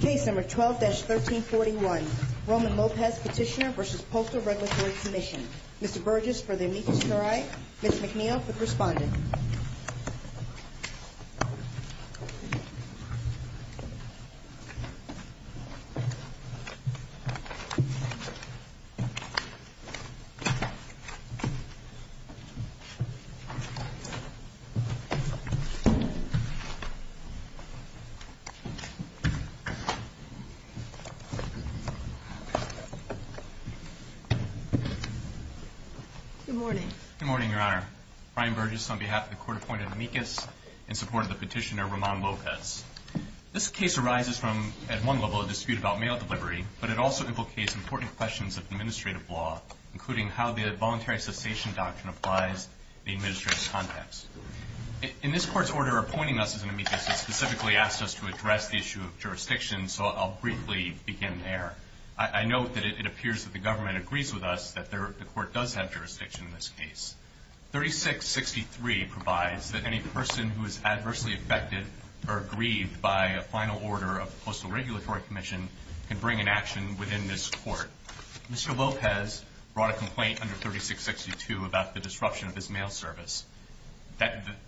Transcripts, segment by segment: Case No. 12-1341, Roman Lopez Petitioner v. Postal Regulatory Commission Mr. Burgess for the amicus curiae, Ms. McNeil for the respondent Good morning. Good morning, Your Honor. Brian Burgess on behalf of the Court appointed amicus in support of the petitioner, Roman Lopez. This case arises from, at one level, a dispute about mail delivery, but it also implicates important questions of administrative law, including how the voluntary cessation doctrine applies to the administrative context. In this Court's order appointing us as an amicus, it specifically asks us to address the issue of jurisdiction, so I'll briefly begin there. I note that it appears that the government agrees with us that the Court does have jurisdiction in this case. 3663 provides that any person who is adversely affected or aggrieved by a final order of the Postal Regulatory Commission can bring an action within this Court. Mr. Lopez brought a complaint under 3662 about the disruption of his mail service.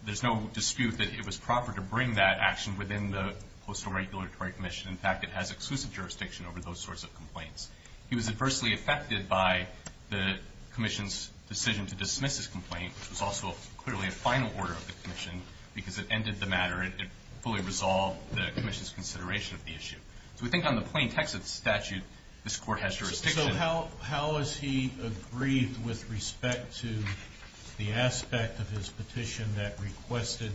There's no dispute that it was proper to bring that action within the Postal Regulatory Commission. In fact, it has exclusive jurisdiction over those sorts of complaints. He was adversely affected by the Commission's decision to dismiss his complaint, which was also clearly a final order of the Commission, because it ended the matter. It fully resolved the Commission's consideration of the issue. So we think on the plain text of the statute, this Court has jurisdiction. So how is he aggrieved with respect to the aspect of his petition that requested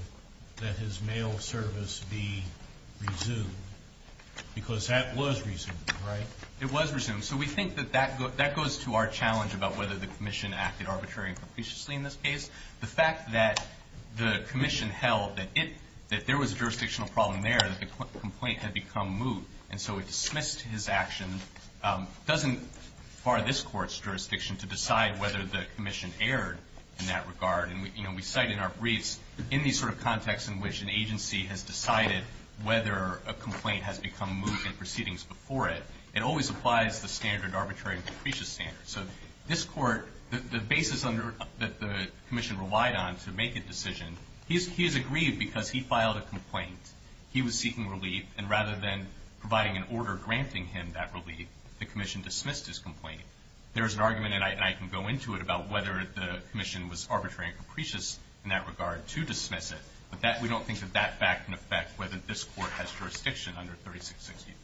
that his mail service be resumed? Because that was resumed, right? It was resumed, so we think that that goes to our challenge about whether the Commission acted arbitrarily and capriciously in this case. The fact that the Commission held that there was a jurisdictional problem there, that the complaint had become moot, and so it dismissed his action, doesn't bar this Court's jurisdiction to decide whether the Commission erred in that regard. And we cite in our briefs, in these sort of contexts in which an agency has decided whether a complaint has become moot in proceedings before it, it always applies the standard arbitrary and capricious standard. So this Court, the basis that the Commission relied on to make a decision, he is aggrieved because he filed a complaint. He was seeking relief, and rather than providing an order granting him that relief, the Commission dismissed his complaint. There is an argument, and I can go into it, about whether the Commission was arbitrary and capricious in that regard to dismiss it. But we don't think that that fact can affect whether this Court has jurisdiction under 3663.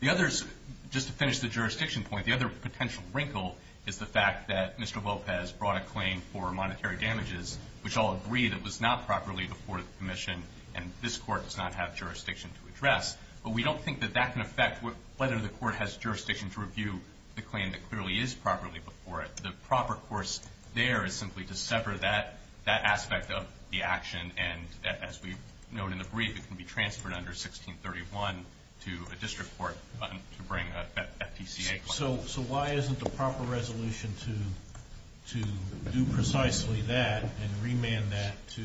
The others, just to finish the jurisdiction point, the other potential wrinkle is the fact that Mr. Lopez brought a claim for monetary damages, which I'll agree that was not properly before the Commission, and this Court does not have jurisdiction to address. But we don't think that that can affect whether the Court has jurisdiction to review the claim that clearly is properly before it. The proper course there is simply to sever that aspect of the action, and as we've known in the brief, it can be transferred under 1631 to a district court to bring that PCA claim. So why isn't the proper resolution to do precisely that and remand that to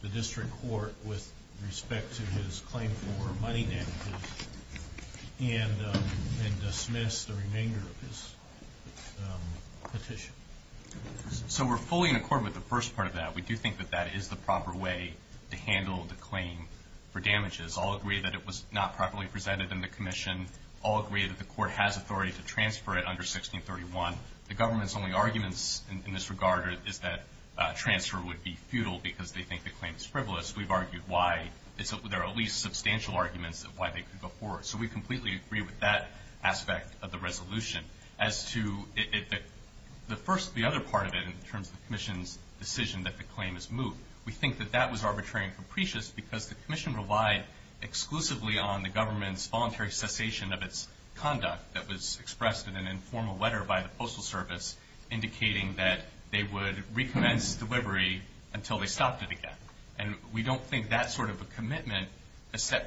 the district court with respect to his claim for money damages and dismiss the remainder of his petition? So we're fully in accord with the first part of that. We do think that that is the proper way to handle the claim for damages. I'll agree that it was not properly presented in the Commission. All agree that the Court has authority to transfer it under 1631. The Government's only arguments in this regard is that transfer would be futile because they think the claim is frivolous. We've argued why there are at least substantial arguments of why they could go forward. So we completely agree with that aspect of the resolution. As to the first, the other part of it in terms of the Commission's decision that the claim is moved, we think that that was arbitrary and capricious because the Commission relied exclusively on the Government's voluntary cessation of its conduct that was expressed in an informal letter by the Postal Service indicating that they would recommence delivery until they stopped it again. We don't think that sort of a commitment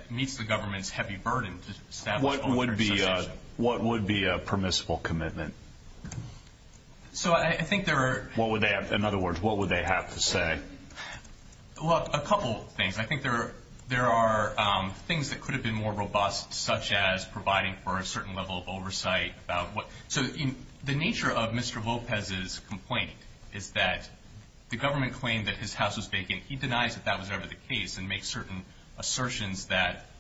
meets the Government's heavy burden to establish voluntary cessation. What would be a permissible commitment? In other words, what would they have to say? Well, a couple of things. I think there are things that could have been more robust such as providing for a certain level of oversight. So the nature of Mr. Lopez's complaint is that the Government claimed that his house was vacant. He denies that that was ever the case and makes certain assertions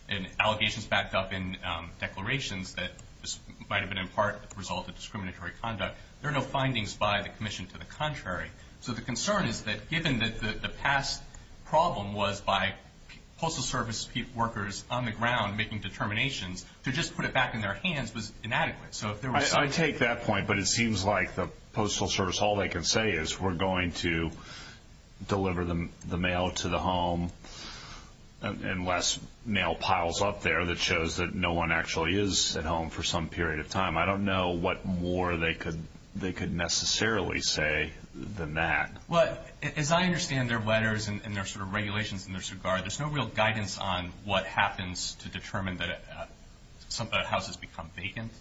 and allegations backed up in declarations that this might have been in part the result of discriminatory conduct. There are no findings by the Commission to the contrary. So the concern is that given that the past problem was by Postal Service workers on the ground making determinations, to just put it back in their hands was inadequate. I take that point, but it seems like the Postal Service, all they can say is we're going to deliver the mail to the home unless mail piles up there that shows that no one actually is at home for some period of time. I don't know what more they could necessarily say than that. Well, as I understand their letters and their regulations in this regard, there's no real guidance on what happens to determine that a house has become vacant.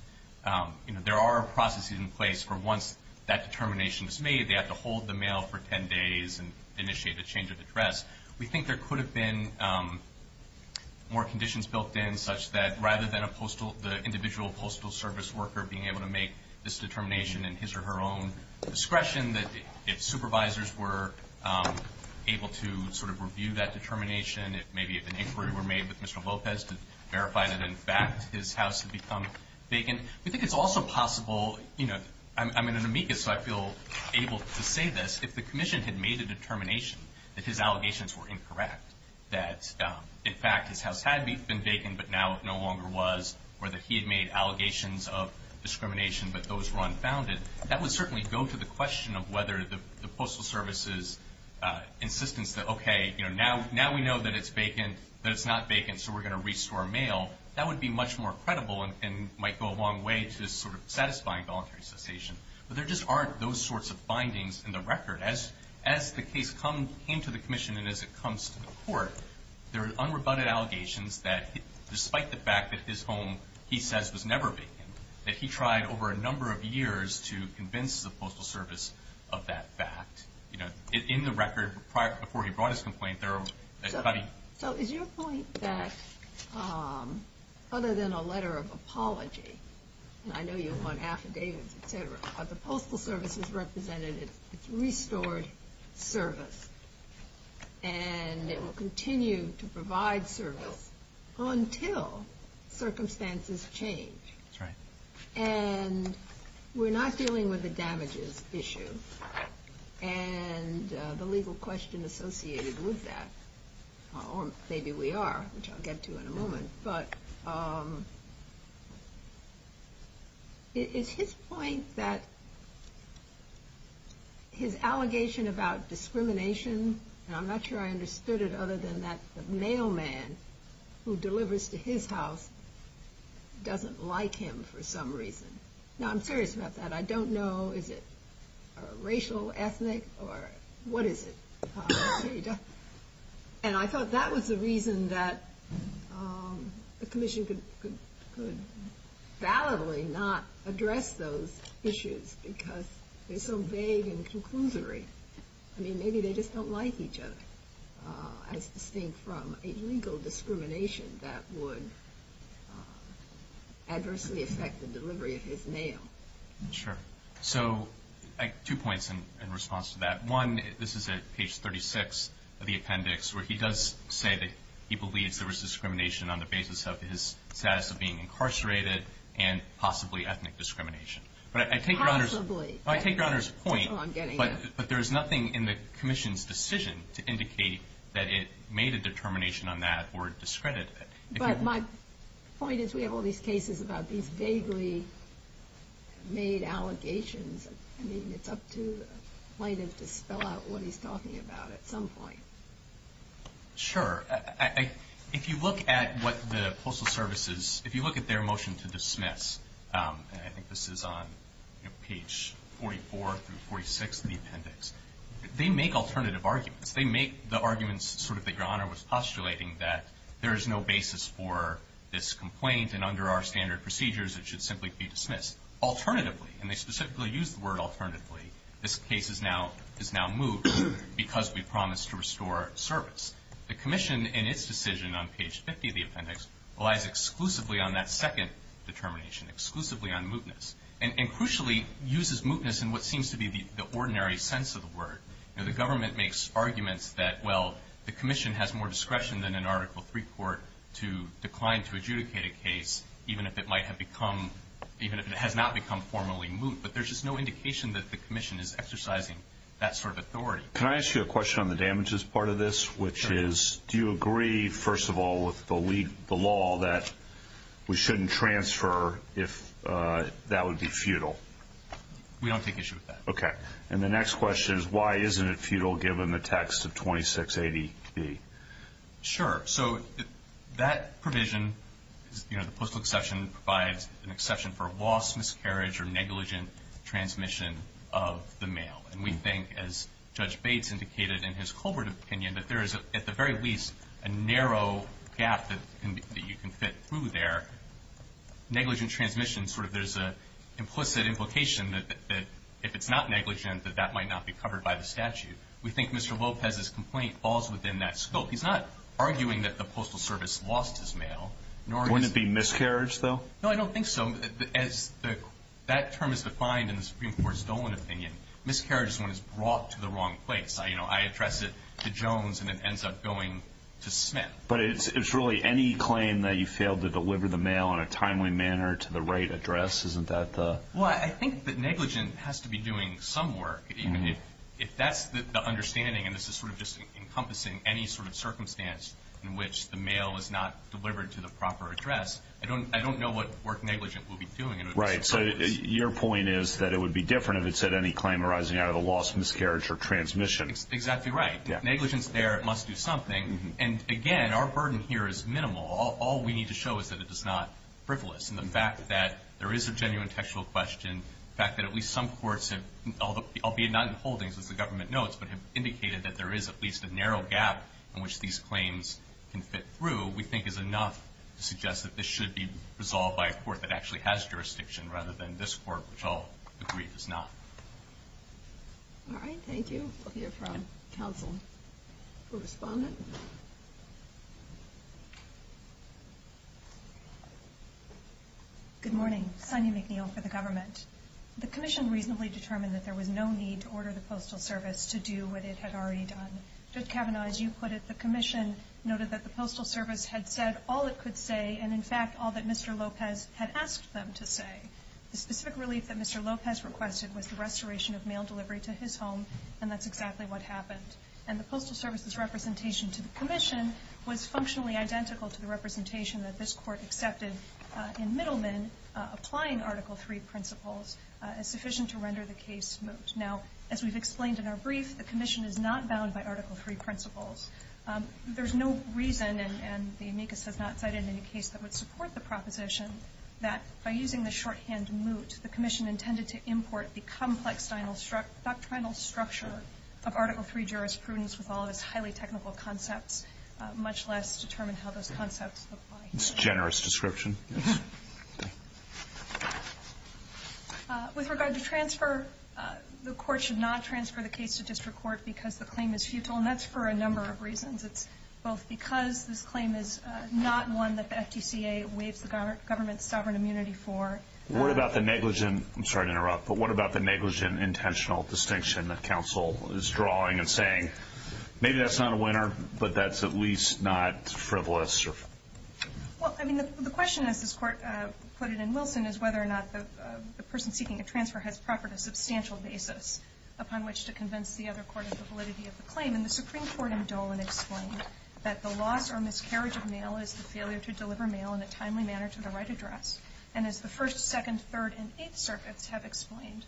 There are processes in place for once that determination is made, they have to hold the mail for 10 days and initiate a change of address. We think there could have been more conditions built in such that rather than the individual Postal Service worker being able to make this determination in his or her own discretion, that if supervisors were able to sort of review that determination, maybe if an inquiry were made with Mr. Lopez to verify that in fact his house had become vacant. We think it's also possible, you know, I'm an amicus so I feel able to say this, if the Commission had made a determination that his allegations were incorrect, that in fact his house had been vacant but now it no longer was, or that he had made allegations of discrimination but those were unfounded, that would certainly go to the question of whether the Postal Service's insistence that, okay, now we know that it's not vacant so we're going to restore mail, that would be much more credible and might go a long way to sort of satisfying voluntary cessation. But there just aren't those sorts of findings in the record. As the case came to the Commission and as it comes to the court, there are unrebutted allegations that despite the fact that his home, he says, was never vacant, that he tried over a number of years to convince the Postal Service of that fact. You know, in the record prior to before he brought his complaint, there are- So is your point that other than a letter of apology, and I know you want affidavits, et cetera, but the Postal Service has represented its restored service and it will continue to provide service until circumstances change? That's right. And we're not dealing with the damages issue and the legal question associated with that, or maybe we are, which I'll get to in a moment, but it's his point that his allegation about discrimination, and I'm not sure I understood it other than that the mailman who delivers to his house doesn't like him for some reason. Now, I'm serious about that. I don't know, is it racial, ethnic, or what is it? And I thought that was the reason that the commission could validly not address those issues because they're so vague and conclusory. I mean, maybe they just don't like each other as distinct from a legal discrimination that would adversely affect the delivery of his mail. Sure. So two points in response to that. One, this is at page 36 of the appendix, where he does say that he believes there was discrimination on the basis of his status of being incarcerated and possibly ethnic discrimination. Possibly. I take Your Honor's point, but there is nothing in the commission's decision to indicate that it made a determination on that or discredited it. But my point is we have all these cases about these vaguely made allegations. I mean, it's up to plaintiffs to spell out what he's talking about at some point. Sure. If you look at what the Postal Service is, if you look at their motion to dismiss, and I think this is on page 44 through 46 of the appendix, they make alternative arguments. They make the arguments sort of that Your Honor was postulating, that there is no basis for this complaint, and under our standard procedures it should simply be dismissed. Alternatively, and they specifically use the word alternatively, this case is now moved because we promised to restore service. The commission in its decision on page 50 of the appendix relies exclusively on that second determination, exclusively on mootness, and crucially uses mootness in what seems to be the ordinary sense of the word. The government makes arguments that, well, the commission has more discretion than an Article III court to decline to adjudicate a case, even if it might have become, even if it has not become formally moot. But there's just no indication that the commission is exercising that sort of authority. Can I ask you a question on the damages part of this, which is, do you agree, first of all, with the law that we shouldn't transfer if that would be futile? We don't take issue with that. Okay. And the next question is, why isn't it futile given the text of 2680B? Sure. So that provision, you know, the postal exception, provides an exception for loss, miscarriage, or negligent transmission of the mail. And we think, as Judge Bates indicated in his Colbert opinion, that there is, at the very least, a narrow gap that you can fit through there. Negligent transmission, sort of there's an implicit implication that if it's not negligent, that that might not be covered by the statute. We think Mr. Lopez's complaint falls within that scope. He's not arguing that the Postal Service lost his mail. Wouldn't it be miscarriage, though? No, I don't think so. As that term is defined in the Supreme Court's Dolan opinion, miscarriage is when it's brought to the wrong place. You know, I address it to Jones, and it ends up going to Smith. But it's really any claim that you failed to deliver the mail in a timely manner to the right address, isn't that the? Well, I think that negligent has to be doing some work. If that's the understanding, and this is sort of just encompassing any sort of circumstance in which the mail was not delivered to the proper address, I don't know what work negligent will be doing. Right. So your point is that it would be different if it said any claim arising out of a loss, miscarriage, or transmission. Exactly right. Negligence there must do something. And, again, our burden here is minimal. All we need to show is that it is not frivolous. And the fact that there is a genuine textual question, and the fact that at least some courts have, albeit not in holdings as the government notes, but have indicated that there is at least a narrow gap in which these claims can fit through, we think is enough to suggest that this should be resolved by a court that actually has jurisdiction rather than this court, which I'll agree does not. All right, thank you. We'll hear from counsel for respondent. Good morning. Sonia McNeil for the government. The Commission reasonably determined that there was no need to order the Postal Service to do what it had already done. Judge Kavanaugh, as you put it, the Commission noted that the Postal Service had said all it could say and, in fact, all that Mr. Lopez had asked them to say. The specific relief that Mr. Lopez requested was the restoration of mail delivery to his home, and that's exactly what happened. And the Postal Service's representation today to the Commission was functionally identical to the representation that this court accepted in Middleman applying Article III principles as sufficient to render the case moot. Now, as we've explained in our brief, the Commission is not bound by Article III principles. There's no reason, and the amicus has not cited any case that would support the proposition, that by using the shorthand moot, the Commission intended to import the complex doctrinal structure of Article III jurisprudence with all of its highly technical concepts, much less determine how those concepts apply. It's a generous description. With regard to transfer, the Court should not transfer the case to district court because the claim is futile, and that's for a number of reasons. It's both because this claim is not one that the FTCA waives the government's sovereign immunity for... What about the negligent... I'm sorry to interrupt, but what about the negligent intentional distinction that counsel is drawing and saying, maybe that's not a winner, but that's at least not frivolous or... Well, I mean, the question, as this Court put it in Wilson, is whether or not the person seeking a transfer has proffered a substantial basis upon which to convince the other court of the validity of the claim. And the Supreme Court in Dolan explained that the loss or miscarriage of mail is the failure to deliver mail in a timely manner to the right address. And as the First, Second, Third, and Eighth Circuits have explained,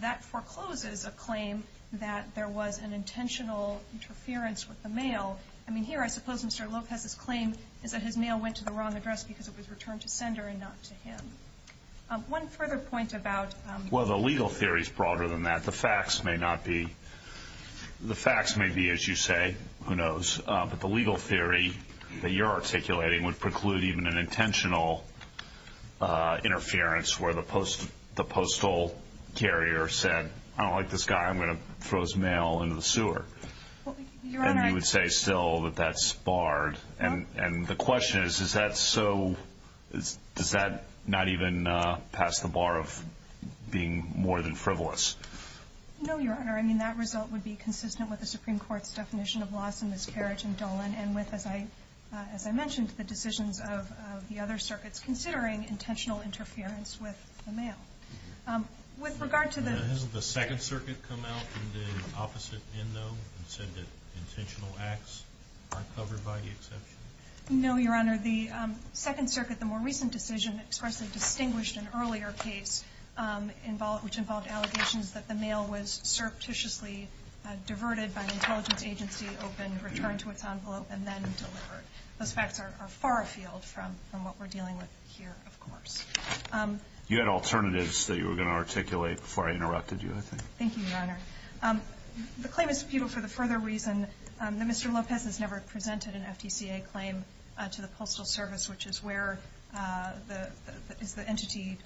that forecloses a claim that there was an intentional interference with the mail. I mean, here, I suppose Mr. Lopez's claim is that his mail went to the wrong address because it was returned to sender and not to him. One further point about... Well, the legal theory is broader than that. The facts may not be... The facts may be, as you say, who knows, but the legal theory that you're articulating would preclude even an intentional interference where the postal carrier said, I don't like this guy, I'm going to throw his mail into the sewer. And you would say still that that's barred. And the question is, is that so... Does that not even pass the bar of being more than frivolous? No, Your Honor. I mean, that result would be consistent with the Supreme Court's definition of loss and miscarriage in Dolan and with, as I mentioned, the decisions of the other circuits. That's considering intentional interference with the mail. With regard to the... Hasn't the Second Circuit come out in the opposite end, though, and said that intentional acts aren't covered by the exception? No, Your Honor. The Second Circuit, the more recent decision, expressly distinguished an earlier case which involved allegations that the mail was surreptitiously diverted by an intelligence agency, opened, returned to its envelope, and then delivered. Those facts are far afield from what we're dealing with here, of course. You had alternatives that you were going to articulate before I interrupted you, I think. Thank you, Your Honor. The claim is subpoenaed for the further reason that Mr. Lopez has never presented an FTCA claim to the Postal Service, which is where... is the entity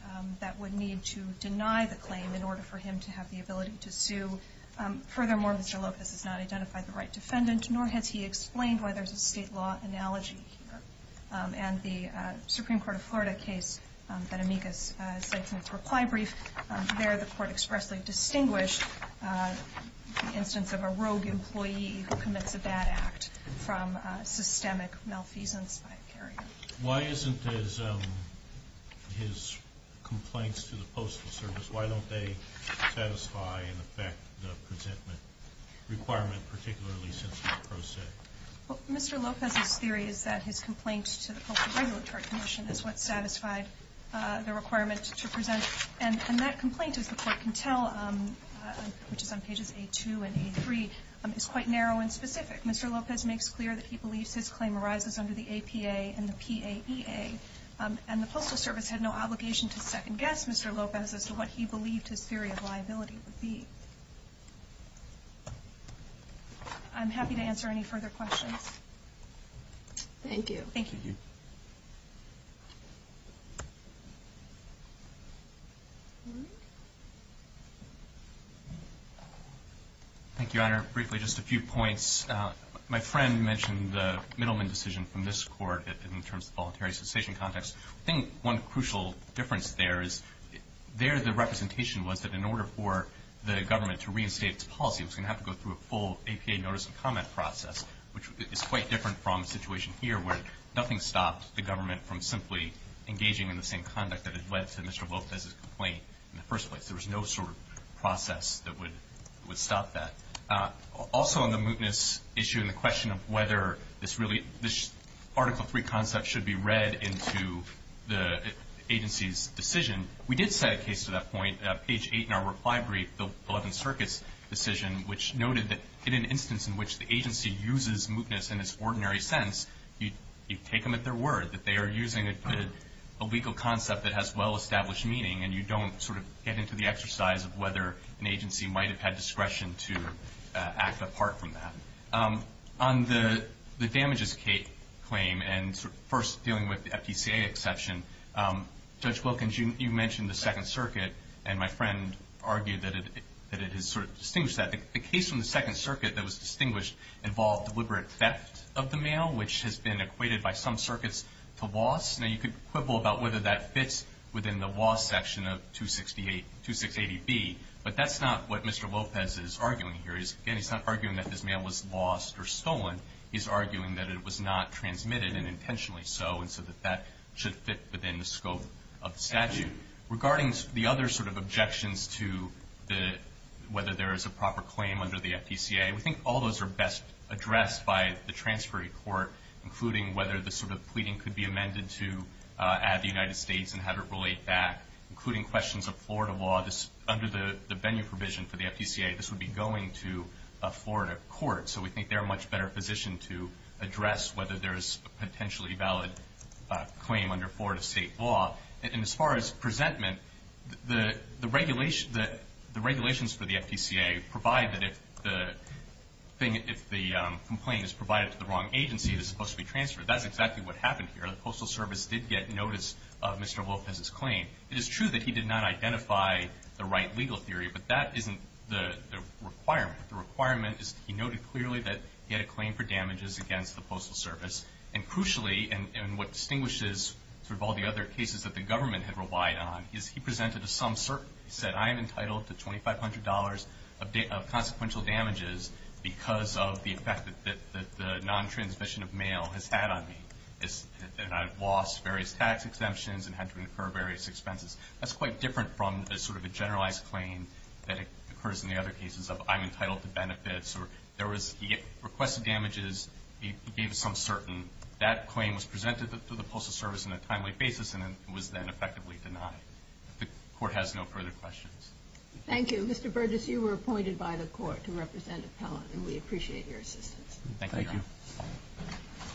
that would need to deny the claim in order for him to have the ability to sue. Furthermore, Mr. Lopez has not identified the right defendant, nor has he explained why there's a state law analogy here. And the Supreme Court of Florida case that Amicus cites in its reply brief, there the court expressly distinguished the instance of a rogue employee who commits a bad act from systemic malfeasance by a carrier. Why isn't his complaints to the Postal Service, why don't they satisfy and affect the presentment requirement, particularly since it's pro se? Mr. Lopez's theory is that his complaints to the Postal Regulatory Commission is what satisfied the requirement to present. And that complaint, as the court can tell, which is on pages A2 and A3, is quite narrow and specific. Mr. Lopez makes clear that he believes his claim arises under the APA and the PAEA. And the Postal Service had no obligation to second-guess Mr. Lopez as to what he believed his theory of liability would be. I'm happy to answer any further questions. Thank you. Thank you. Thank you, Your Honor. Briefly, just a few points. My friend mentioned the Middleman decision from this court in terms of voluntary cessation context. I think one crucial difference there is there the representation was that in order for the government to reinstate its policy, it was going to have to go through a full APA notice and comment process, which is quite different from the situation here where nothing stopped the government from simply engaging in the same conduct that had led to Mr. Lopez's complaint in the first place. There was no sort of process that would stop that. Also on the mootness issue and the question of whether this article 3 concept should be read into the agency's decision, we did set a case to that point. Page 8 in our reply brief, the Eleventh Circuit's decision, which noted that in an instance in which the agency uses mootness in its ordinary sense, you take them at their word, that they are using a legal concept that has well-established meaning and you don't sort of get into the exercise of whether an agency might have had discretion to act apart from that. On the damages claim and first dealing with the FTCA exception, Judge Wilkins, you mentioned the Second Circuit, and my friend argued that it has sort of distinguished that. The case from the Second Circuit that was distinguished involved deliberate theft of the mail, which has been equated by some circuits to loss. Now, you could quibble about whether that fits within the loss section of 2680B, but that's not what Mr. Lopez is arguing here. Again, he's not arguing that this mail was lost or stolen. He's arguing that it was not transmitted, and intentionally so, and so that that should fit within the scope of the statute. Regarding the other sort of objections to whether there is a proper claim under the FTCA, we think all those are best addressed by the transferee court, including whether the sort of pleading could be amended to add the United States and have it relate back, including questions of Florida law. Under the venue provision for the FTCA, this would be going to a Florida court, so we think they're in a much better position to address whether there is a potentially valid claim under Florida state law. And as far as presentment, the regulations for the FTCA provide that if the complaint is provided to the wrong agency, it is supposed to be transferred. That's exactly what happened here. The Postal Service did get notice of Mr. Lopez's claim. It is true that he did not identify the right legal theory, but that isn't the requirement. The requirement is that he noted clearly that he had a claim for damages against the Postal Service, and crucially, and what distinguishes all the other cases that the government had relied on, is he presented some certainty. He said, I am entitled to $2,500 of consequential damages because of the effect that the non-transmission of mail has had on me. And I've lost various tax exemptions and had to incur various expenses. That's quite different from a sort of a generalized claim that occurs in the other cases of, I'm entitled to benefits. He requested damages. He gave some certainty. That claim was presented to the Postal Service on a timely basis, and it was then effectively denied. The Court has no further questions. Thank you. Mr. Burgess, you were appointed by the Court to represent Appellant, and we appreciate your assistance. Thank you.